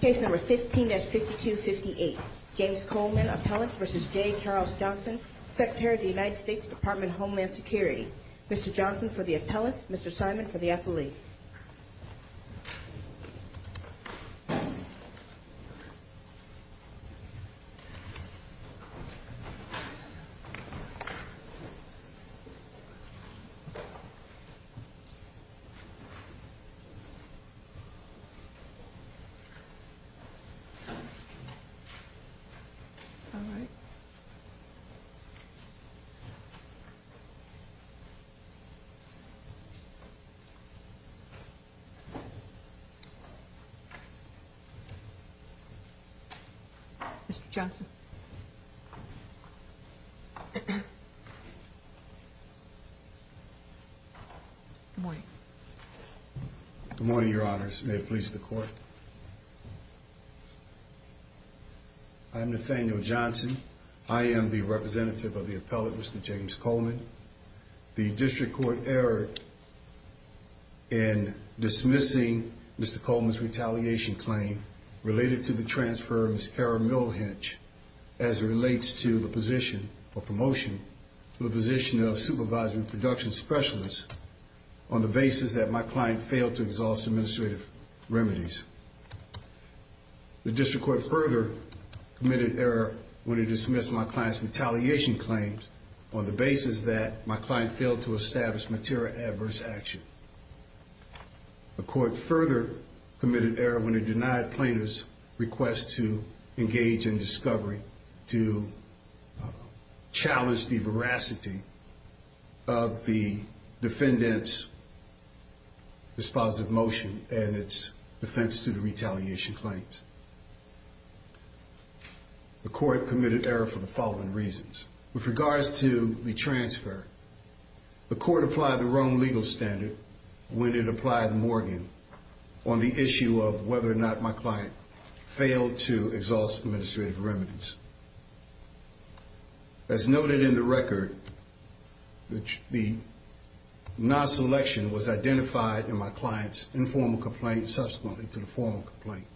Case number 15-5258. James Coleman, appellant, v. J. Charles Johnson, Secretary of the United States Department of Homeland Security. Mr. Johnson for the appellant, Mr. Simon for the affilee. All right. Mr. Johnson. Good morning. Good morning, Your Honors. May it please the Court. I'm Nathaniel Johnson. I am the representative of the appellant, Mr. James Coleman. The District Court erred in dismissing Mr. Coleman's retaliation claim related to the transfer of Ms. Kara Milhenge as it relates to the position or promotion to the position of supervising production specialist on the basis that my client failed to exhaust administrative remedies. The District Court further committed error when it dismissed my client's retaliation claims on the basis that my client failed to establish material adverse action. The Court further committed error when it denied plaintiff's request to engage in discovery to challenge the veracity of the defendant's dispositive motion and its defense to the retaliation claims. The Court committed error for the following reasons. With regards to the transfer, the Court applied the wrong legal standard when it applied Morgan on the issue of whether or not my client failed to exhaust administrative remedies. As noted in the record, the non-selection was identified in my client's informal complaint subsequently to the formal complaint.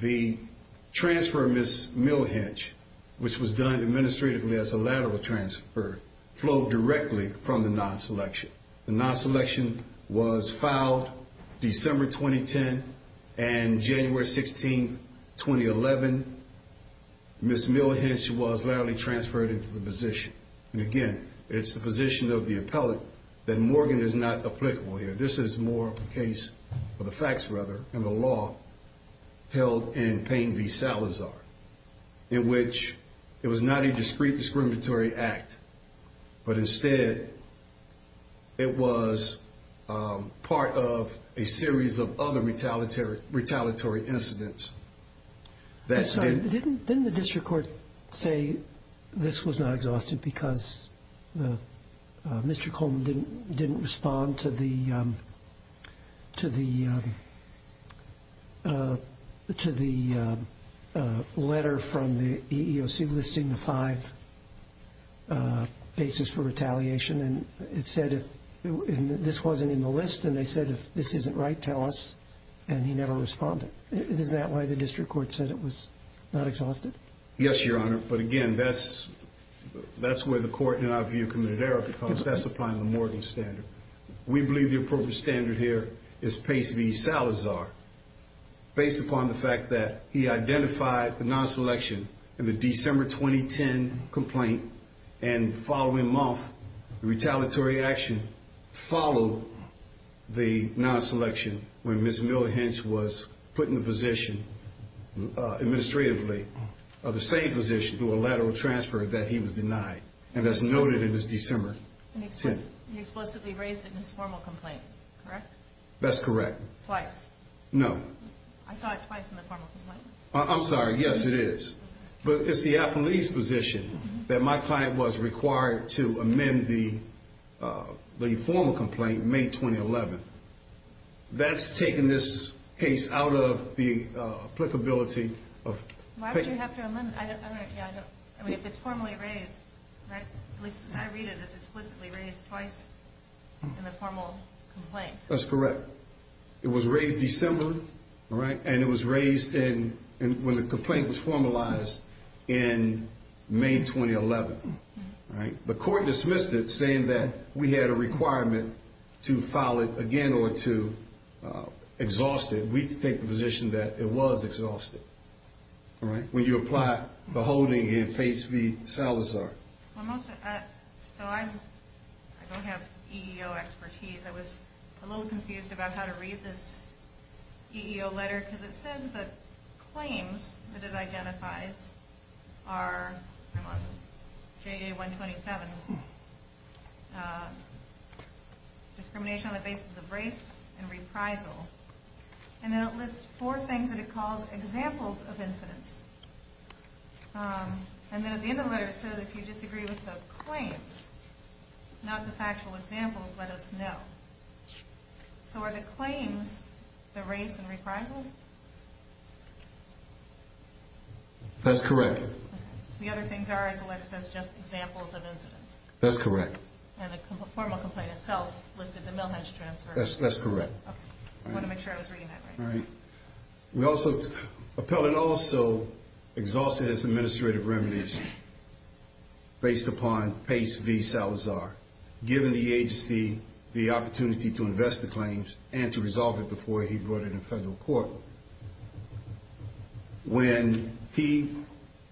The transfer of Ms. Milhenge, which was done administratively as a lateral transfer, flowed directly from the non-selection. The non-selection was filed December 2010 and January 16, 2011. Ms. Milhenge was laterally transferred into the position. And again, it's the position of the appellant that Morgan is not applicable here. This is more of a case of the facts, rather, in the law held in Payne v. Salazar, in which it was not a discreet discriminatory act. But instead, it was part of a series of other retaliatory incidents. Didn't the district court say this was not exhaustive because Mr. Coleman didn't respond to the letter from the EEOC listing the five bases for retaliation? And it said if this wasn't in the list, and they said, if this isn't right, tell us. And he never responded. Is that why the district court said it was not exhaustive? Yes, Your Honor. But again, that's where the court, in our view, committed error because that's applying the Morgan standard. We believe the appropriate standard here is Payne v. Salazar based upon the fact that he identified the non-selection in the December 2010 complaint and following month, the retaliatory action followed the non-selection when Ms. Miller-Hench was put in the position administratively of the same position through a lateral transfer that he was denied. And that's noted in this December. And he explicitly raised it in his formal complaint, correct? That's correct. Twice? No. I saw it twice in the formal complaint. I'm sorry. Yes, it is. But it's the appellee's position that my client was required to amend the formal complaint in May 2011. That's taken this case out of the applicability of Payne. Why did you have to amend it? I mean, if it's formally raised, right? At least as I read it, it's explicitly raised twice in the formal complaint. That's correct. It was raised December, and it was raised when the complaint was formalized in May 2011. The court dismissed it saying that we had a requirement to file it again or to exhaust it. We take the position that it was exhausted when you apply the holding in Payne v. Salazar. I don't have EEO expertise. I was a little confused about how to read this EEO letter because it says the claims that it identifies are JA-127, discrimination on the basis of race and reprisal. And then it lists four things that it calls examples of incidents. And then at the end of the letter it says if you disagree with the claims, not the factual examples, let us know. So are the claims the race and reprisal? That's correct. The other things are, as the letter says, just examples of incidents. That's correct. And the formal complaint itself listed the mill hedge transfer. That's correct. I want to make sure I was reading that right. Appellant also exhausted his administrative remuneration based upon Pace v. Salazar, giving the agency the opportunity to invest the claims and to resolve it before he brought it in federal court. When he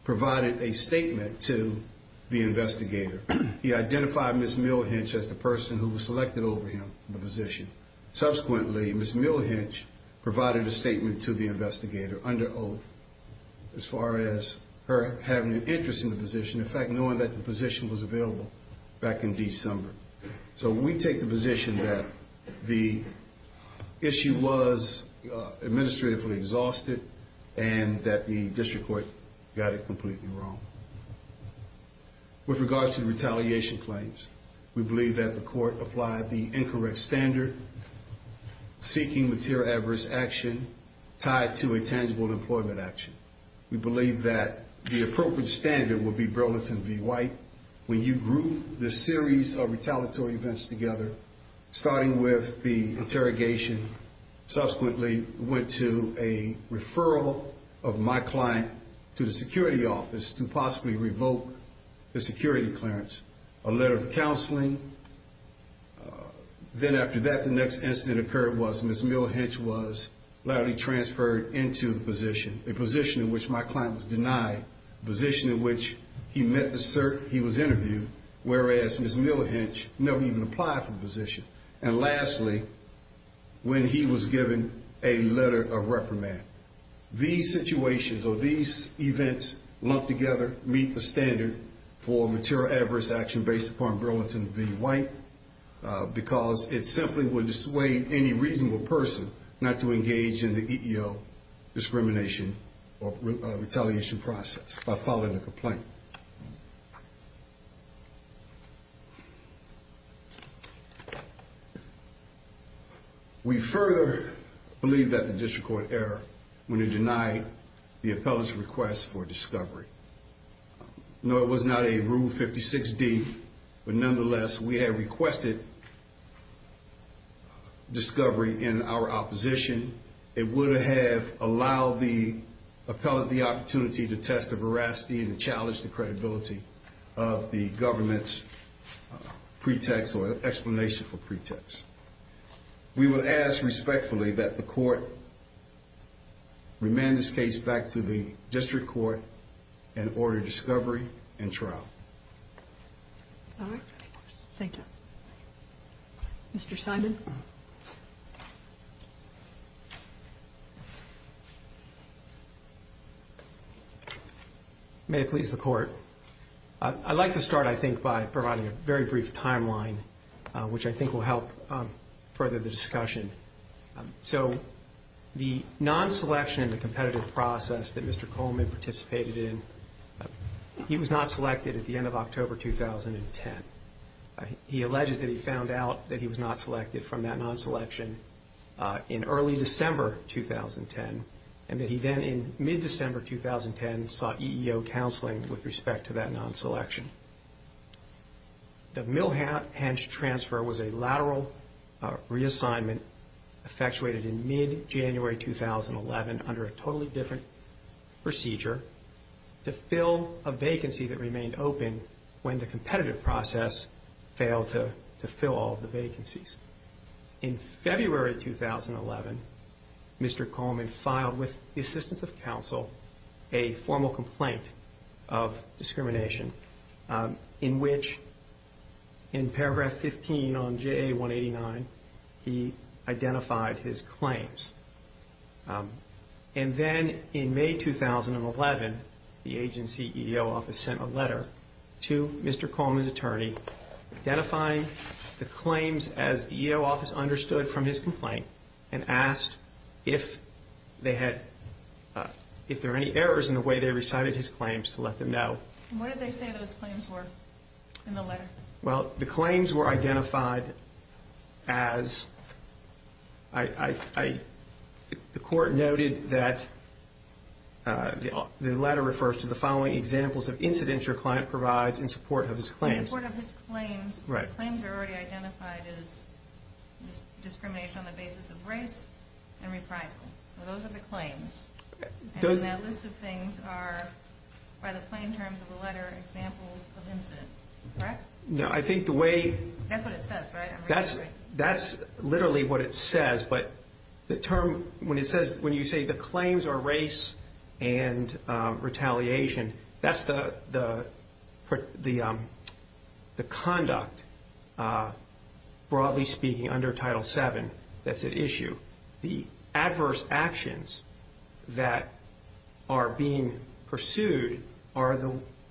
provided a statement to the investigator, he identified Ms. Mill Hinch as the person who was selected over him in the position. Subsequently, Ms. Mill Hinch provided a statement to the investigator under oath as far as her having an interest in the position, in fact, knowing that the position was available back in December. So we take the position that the issue was administratively exhausted and that the district court got it completely wrong. With regards to the retaliation claims, we believe that the court applied the incorrect standard, seeking material adverse action tied to a tangible employment action. We believe that the appropriate standard would be Burlington v. White. When you group the series of retaliatory events together, starting with the interrogation, subsequently went to a referral of my client to the security office to possibly revoke the security clearance, a letter of counseling. Then after that, the next incident occurred was Ms. Mill Hinch was later transferred into the position, a position in which my client was denied, a position in which he was interviewed, whereas Ms. Mill Hinch never even applied for the position. And lastly, when he was given a letter of reprimand. These situations or these events lumped together meet the standard for material adverse action based upon Burlington v. White because it simply would dissuade any reasonable person not to engage in the EEO discrimination or retaliation process by filing a complaint. We further believe that the district court error when it denied the appellate's request for discovery. No, it was not a Rule 56D, but nonetheless, we had requested discovery in our opposition. It would have allowed the appellate the opportunity to test the veracity and challenge the credibility of the government's pretext or explanation for pretext. We would ask respectfully that the court remand this case back to the district court and order discovery and trial. All right. Thank you. Mr. Simon. May it please the Court. I'd like to start, I think, by providing a very brief timeline, which I think will help further the discussion. So the non-selection, the competitive process that Mr. Coleman participated in, he was not selected at the end of October 2010. He alleges that he found out that he was not selected from that non-selection in early December 2010, and that he then in mid-December 2010 sought EEO counseling with respect to that non-selection. The Milhant transfer was a lateral reassignment effectuated in mid-January 2011 under a totally different procedure to fill a vacancy that remained open when the competitive process failed to fill all the vacancies. In February 2011, Mr. Coleman filed with the assistance of counsel a formal complaint of discrimination, in which in paragraph 15 on JA 189, he identified his claims. And then in May 2011, the agency EEO office sent a letter to Mr. Coleman's attorney identifying the claims as the EEO office understood from his complaint and asked if they had, if there were any errors in the way they recited his claims to let them know. What did they say those claims were in the letter? Well, the claims were identified as, the court noted that the letter refers to the following examples of incidents your client provides in support of his claims. In support of his claims. Right. The claims are already identified as discrimination on the basis of race and reprisal. So those are the claims. And that list of things are, by the plain terms of the letter, examples of incidents. Correct? No, I think the way... That's what it says, right? That's literally what it says. But the term, when it says, when you say the claims are race and retaliation, that's the conduct, broadly speaking, under Title VII that's at issue. The adverse actions that are being pursued are the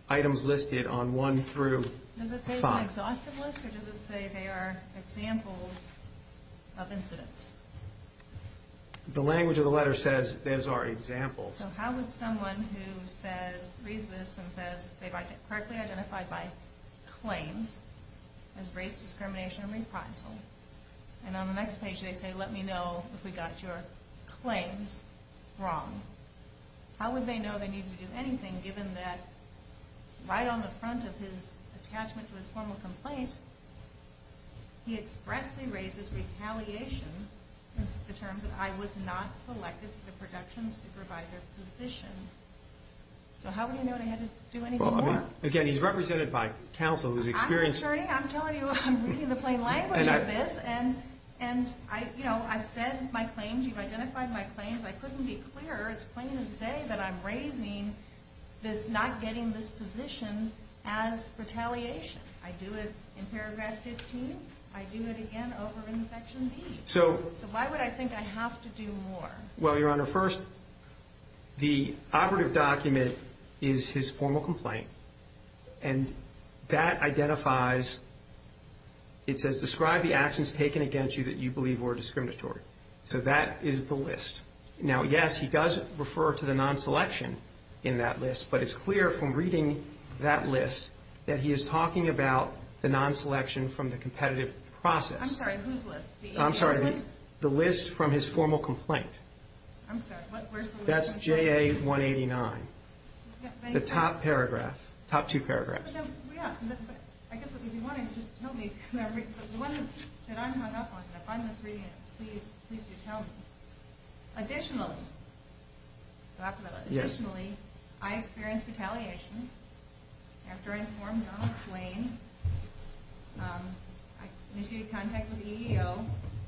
items listed on 1 through 5. Does it say it's an exhaustive list or does it say they are examples of incidents? The language of the letter says those are examples. So how would someone who says, reads this and says they've correctly identified by claims as race, discrimination, and reprisal, and on the next page they say, let me know if we got your claims wrong. How would they know they needed to do anything, given that right on the front of his attachment to his formal complaint, he expressly raises retaliation in the terms of, I was not selected for the production supervisor position. So how would he know what he had to do anymore? Again, he's represented by counsel who's experienced... Attorney, I'm telling you, I'm reading the plain language of this, and I've said my claims, you've identified my claims. I couldn't be clearer. It's plain as day that I'm raising this not getting this position as retaliation. I do it in paragraph 15. I do it again over in section D. So why would I think I have to do more? Well, Your Honor, first, the operative document is his formal complaint, and that identifies, it says, describe the actions taken against you that you believe were discriminatory. So that is the list. Now, yes, he does refer to the non-selection in that list, but it's clear from reading that list that he is talking about the non-selection from the competitive process. I'm sorry, whose list? I'm sorry, the list from his formal complaint. I'm sorry, where's the list? That's JA 189. The top paragraph, top two paragraphs. Yeah, but I guess if you wanted to just tell me, the one that I'm hung up on, if I'm misreading it, please do tell me. Additionally, I experienced retaliation after I informed Donald Swain. I initiated contact with the EEO.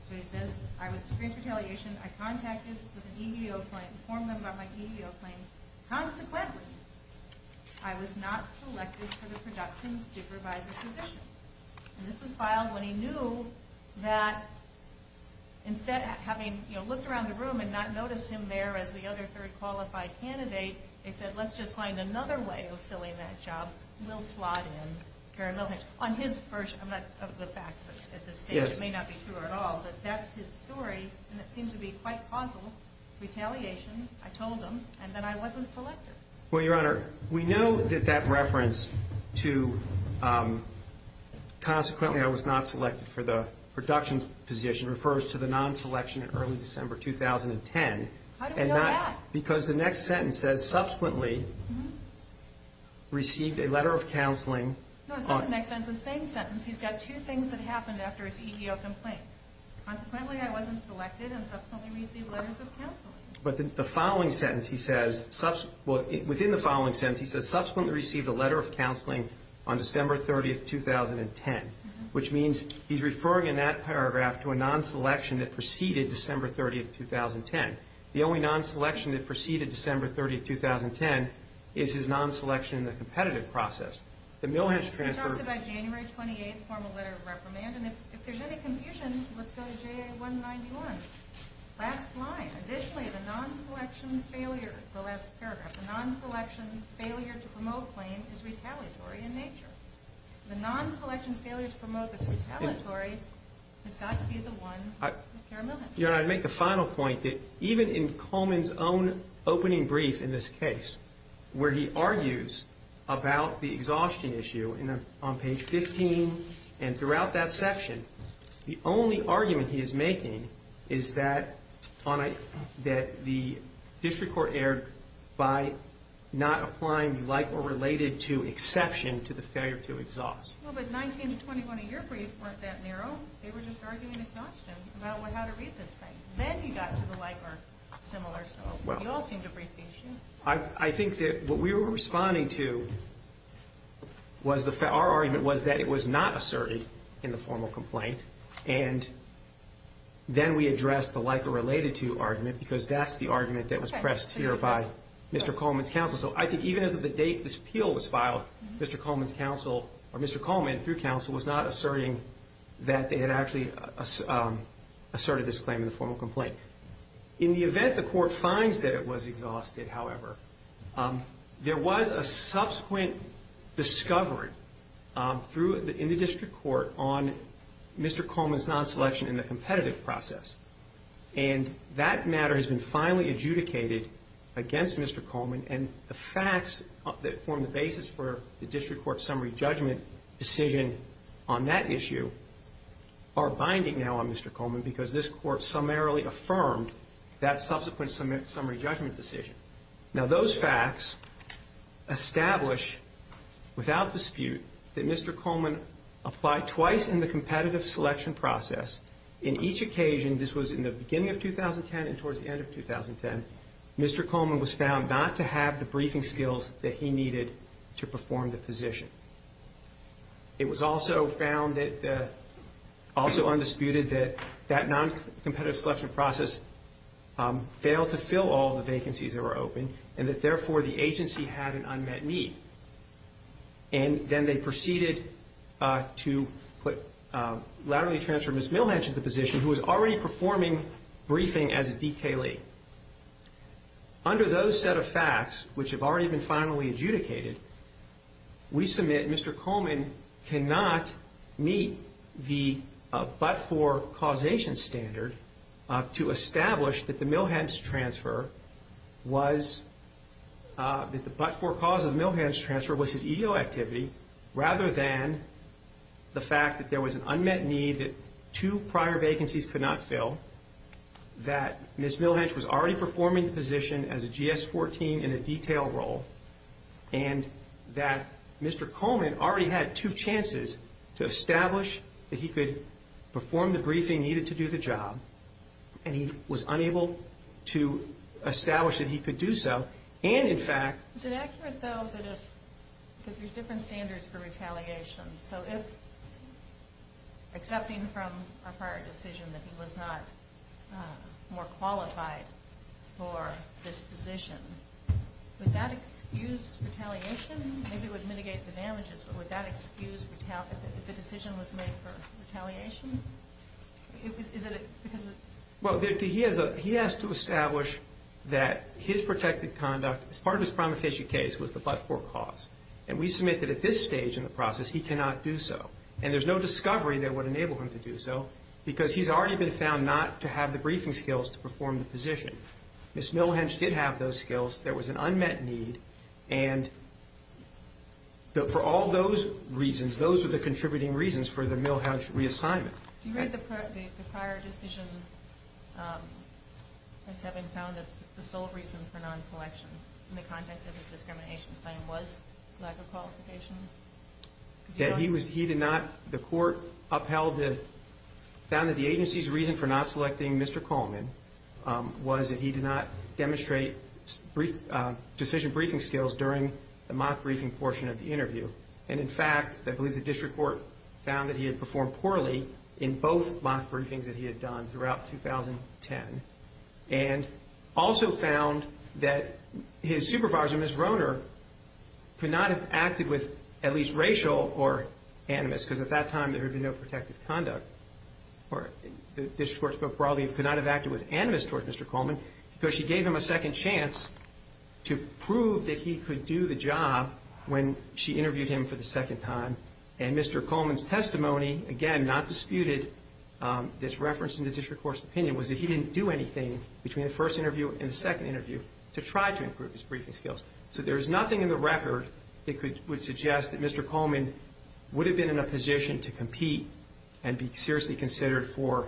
So he says I experienced retaliation. I contacted the EEO claim, informed them about my EEO claim. Consequently, I was not selected for the production's supervisor position. And this was filed when he knew that instead of having looked around the room and not noticed him there as the other third qualified candidate, they said let's just find another way of filling that job. We'll slot in Darren Milheny. On his version, I'm not of the facts at this stage. It may not be true at all, but that's his story, and it seems to be quite causal, retaliation. I told him, and then I wasn't selected. Well, Your Honor, we know that that reference to consequently I was not selected for the production's position refers to the non-selection in early December 2010. How do we know that? Because the next sentence says subsequently received a letter of counseling. No, it's not the next sentence. It's the same sentence. He's got two things that happened after his EEO complaint. Consequently, I wasn't selected and subsequently received letters of counseling. But within the following sentence he says, subsequently received a letter of counseling on December 30, 2010, which means he's referring in that paragraph to a non-selection that preceded December 30, 2010. The only non-selection that preceded December 30, 2010 is his non-selection in the competitive process. He talks about January 28th, formal letter of reprimand, and if there's any confusion, let's go to JA191. Last line. Additionally, the non-selection failure, the last paragraph, the non-selection failure to promote claim is retaliatory in nature. The non-selection failure to promote that's retaliatory has got to be the one with Karen Milham. Your Honor, I'd make the final point that even in Coleman's own opening brief in this case where he argues about the exhaustion issue on page 15 and throughout that section, the only argument he is making is that the district court erred by not applying the like or related to exception to the failure to exhaust. Well, but 19 to 21 in your brief weren't that narrow. They were just arguing exhaustion about how to read this thing. Then he got to the like or similar. So you all seem to agree. I think that what we were responding to, our argument was that it was not asserted in the formal complaint, and then we addressed the like or related to argument because that's the argument that was pressed here by Mr. Coleman's counsel. So I think even as of the date this appeal was filed, Mr. Coleman through counsel was not asserting that they had actually asserted this claim in the formal complaint. In the event the court finds that it was exhausted, however, there was a subsequent discovery in the district court on Mr. Coleman's non-selection in the competitive process, and that matter has been finally adjudicated against Mr. Coleman, and the facts that form the basis for the district court summary judgment decision on that issue are binding now on Mr. Coleman because this court summarily affirmed that subsequent summary judgment decision. Now those facts establish without dispute that Mr. Coleman applied twice in the competitive selection process. In each occasion, this was in the beginning of 2010 and towards the end of 2010, Mr. Coleman was found not to have the briefing skills that he needed to perform the position. It was also found that, also undisputed, that that non-competitive selection process failed to fill all the vacancies that were open, and that, therefore, the agency had an unmet need. And then they proceeded to put laterally transferred Ms. Milhatch at the position who was already performing briefing as a detailee. Under those set of facts, which have already been finally adjudicated, we submit Mr. Coleman cannot meet the but-for causation standard to establish that the Milhatch transfer was that the but-for cause of Milhatch transfer was his EEO activity rather than the fact that there was an unmet need that two prior vacancies could not fill, that Ms. Milhatch was already performing the position as a GS-14 in a detail role, and that Mr. Coleman already had two chances to establish that he could perform the briefing needed to do the job, and he was unable to establish that he could do so, and, in fact... Is it accurate, though, that if... Because there's different standards for retaliation, so if accepting from a prior decision that he was not more qualified for this position, would that excuse retaliation? Maybe it would mitigate the damages, but would that excuse retaliation if the decision was made for retaliation? Is it because of... Well, he has to establish that his protected conduct, as part of his promulgation case, was the but-for cause, and we submit that at this stage in the process he cannot do so, and there's no discovery that would enable him to do so because he's already been found not to have the briefing skills to perform the position. Ms. Milhatch did have those skills. There was an unmet need, and for all those reasons, those are the contributing reasons for the Milhatch reassignment. You read the prior decision as having found that the sole reason for non-selection in the context of a discrimination claim was lack of qualifications? That he did not... The court upheld the... found that the agency's reason for not selecting Mr. Coleman was that he did not demonstrate sufficient briefing skills during the mock briefing portion of the interview, and, in fact, I believe the district court found that he had performed poorly in both mock briefings that he had done throughout 2010 and also found that his supervisor, Ms. Roehner, could not have acted with at least racial or animus because at that time there had been no protective conduct. The district court spoke broadly and could not have acted with animus towards Mr. Coleman because she gave him a second chance to prove that he could do the job when she interviewed him for the second time, and Mr. Coleman's testimony, again, not disputed, that's referenced in the district court's opinion, was that he didn't do anything between the first interview and the second interview to try to improve his briefing skills. So there is nothing in the record that would suggest that Mr. Coleman would have been in a position to compete and be seriously considered for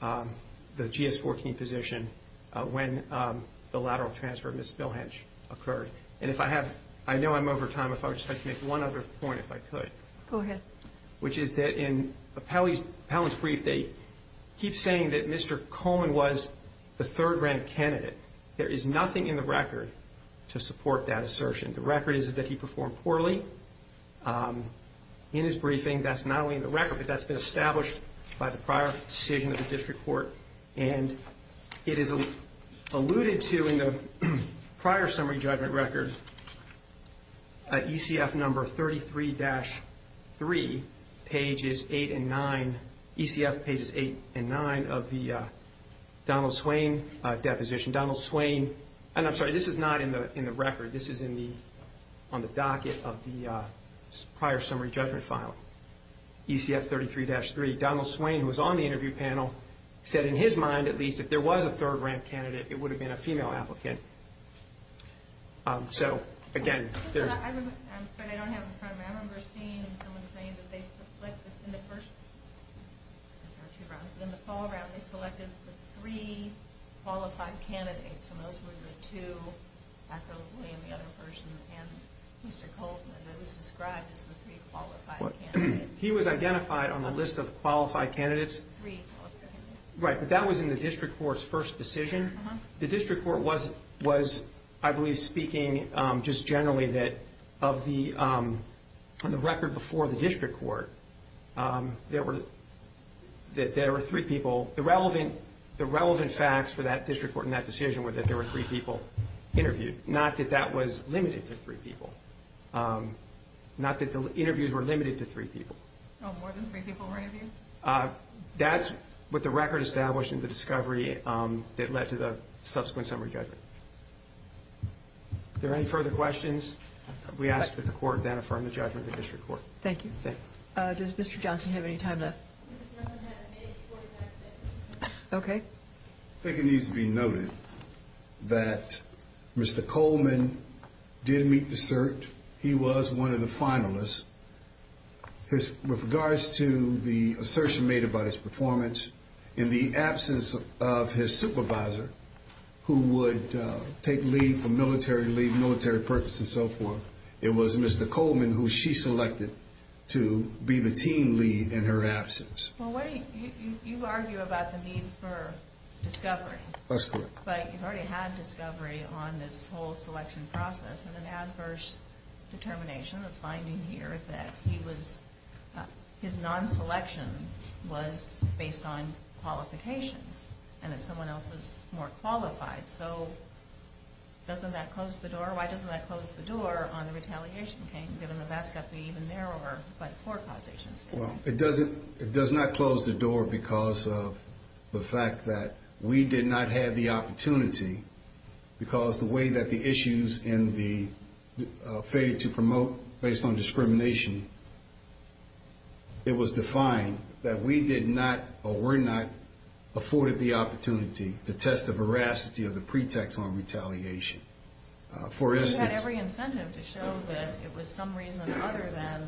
the GS-14 position when the lateral transfer of Ms. Billhenge occurred. And if I have – I know I'm over time. If I would just like to make one other point, if I could. Go ahead. Which is that in Appellant's brief, they keep saying that Mr. Coleman was the third-rank candidate. There is nothing in the record to support that assertion. I think the record is that he performed poorly in his briefing. That's not only in the record, but that's been established by the prior decision of the district court. And it is alluded to in the prior summary judgment record, ECF number 33-3, pages 8 and 9, ECF pages 8 and 9 of the Donald Swain deposition. Donald Swain – and I'm sorry, this is not in the record. This is on the docket of the prior summary judgment file, ECF 33-3. Donald Swain, who was on the interview panel, said in his mind, at least, if there was a third-rank candidate, it would have been a female applicant. So, again, there's – But I don't have it in front of me. I remember seeing someone saying that they selected – in the first – I'm sorry, two rounds. In the fall round, they selected the three qualified candidates, and those were the two – I believe the other person and Mr. Koltman. It was described as the three qualified candidates. He was identified on the list of qualified candidates. Three qualified candidates. Right, but that was in the district court's first decision. The district court was, I believe, speaking just generally that of the – on the record before the district court, there were three people. The relevant facts for that district court in that decision were that there were three people interviewed, not that that was limited to three people, not that the interviews were limited to three people. Oh, more than three people were interviewed? That's what the record established in the discovery that led to the subsequent summary judgment. Are there any further questions? We ask that the court then affirm the judgment of the district court. Thank you. Does Mr. Johnson have any time left? Mr. Johnson has a minute and 45 seconds. Okay. I think it needs to be noted that Mr. Koltman did meet the cert. He was one of the finalists. With regards to the assertion made about his performance, in the absence of his supervisor who would take leave from military leave, military purpose, and so forth, it was Mr. Koltman who she selected to be the team lead in her absence. Well, you argue about the need for discovery. That's correct. But you've already had discovery on this whole selection process and an adverse determination that's binding here that he was – his non-selection was based on qualifications and that someone else was more qualified. So doesn't that close the door? Doesn't that close the door on the retaliation campaign, given that that's got to be even narrower by four causations? Well, it does not close the door because of the fact that we did not have the opportunity because the way that the issues in the failure to promote based on discrimination, it was defined that we did not or were not afforded the opportunity to test the veracity of the pretext on retaliation. You had every incentive to show that it was some reason other than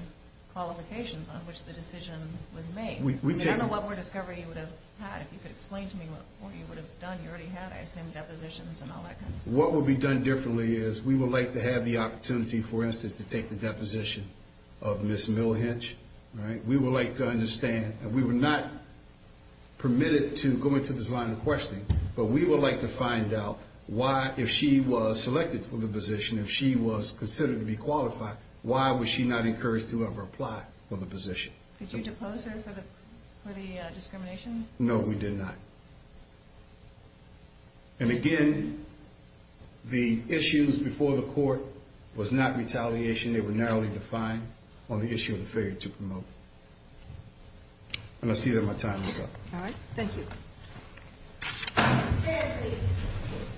qualifications on which the decision was made. I don't know what more discovery you would have had. If you could explain to me what you would have done. You already had, I assume, depositions and all that kind of stuff. What would be done differently is we would like to have the opportunity, for instance, to take the deposition of Ms. Milhinch. We would like to understand – and we were not permitted to go into this line of questioning, but we would like to find out why, if she was selected for the position, if she was considered to be qualified, why was she not encouraged to ever apply for the position? Did you depose her for the discrimination? No, we did not. And again, the issues before the court was not retaliation. They were narrowly defined on the issue of the failure to promote. And I see that my time is up. All right. Thank you.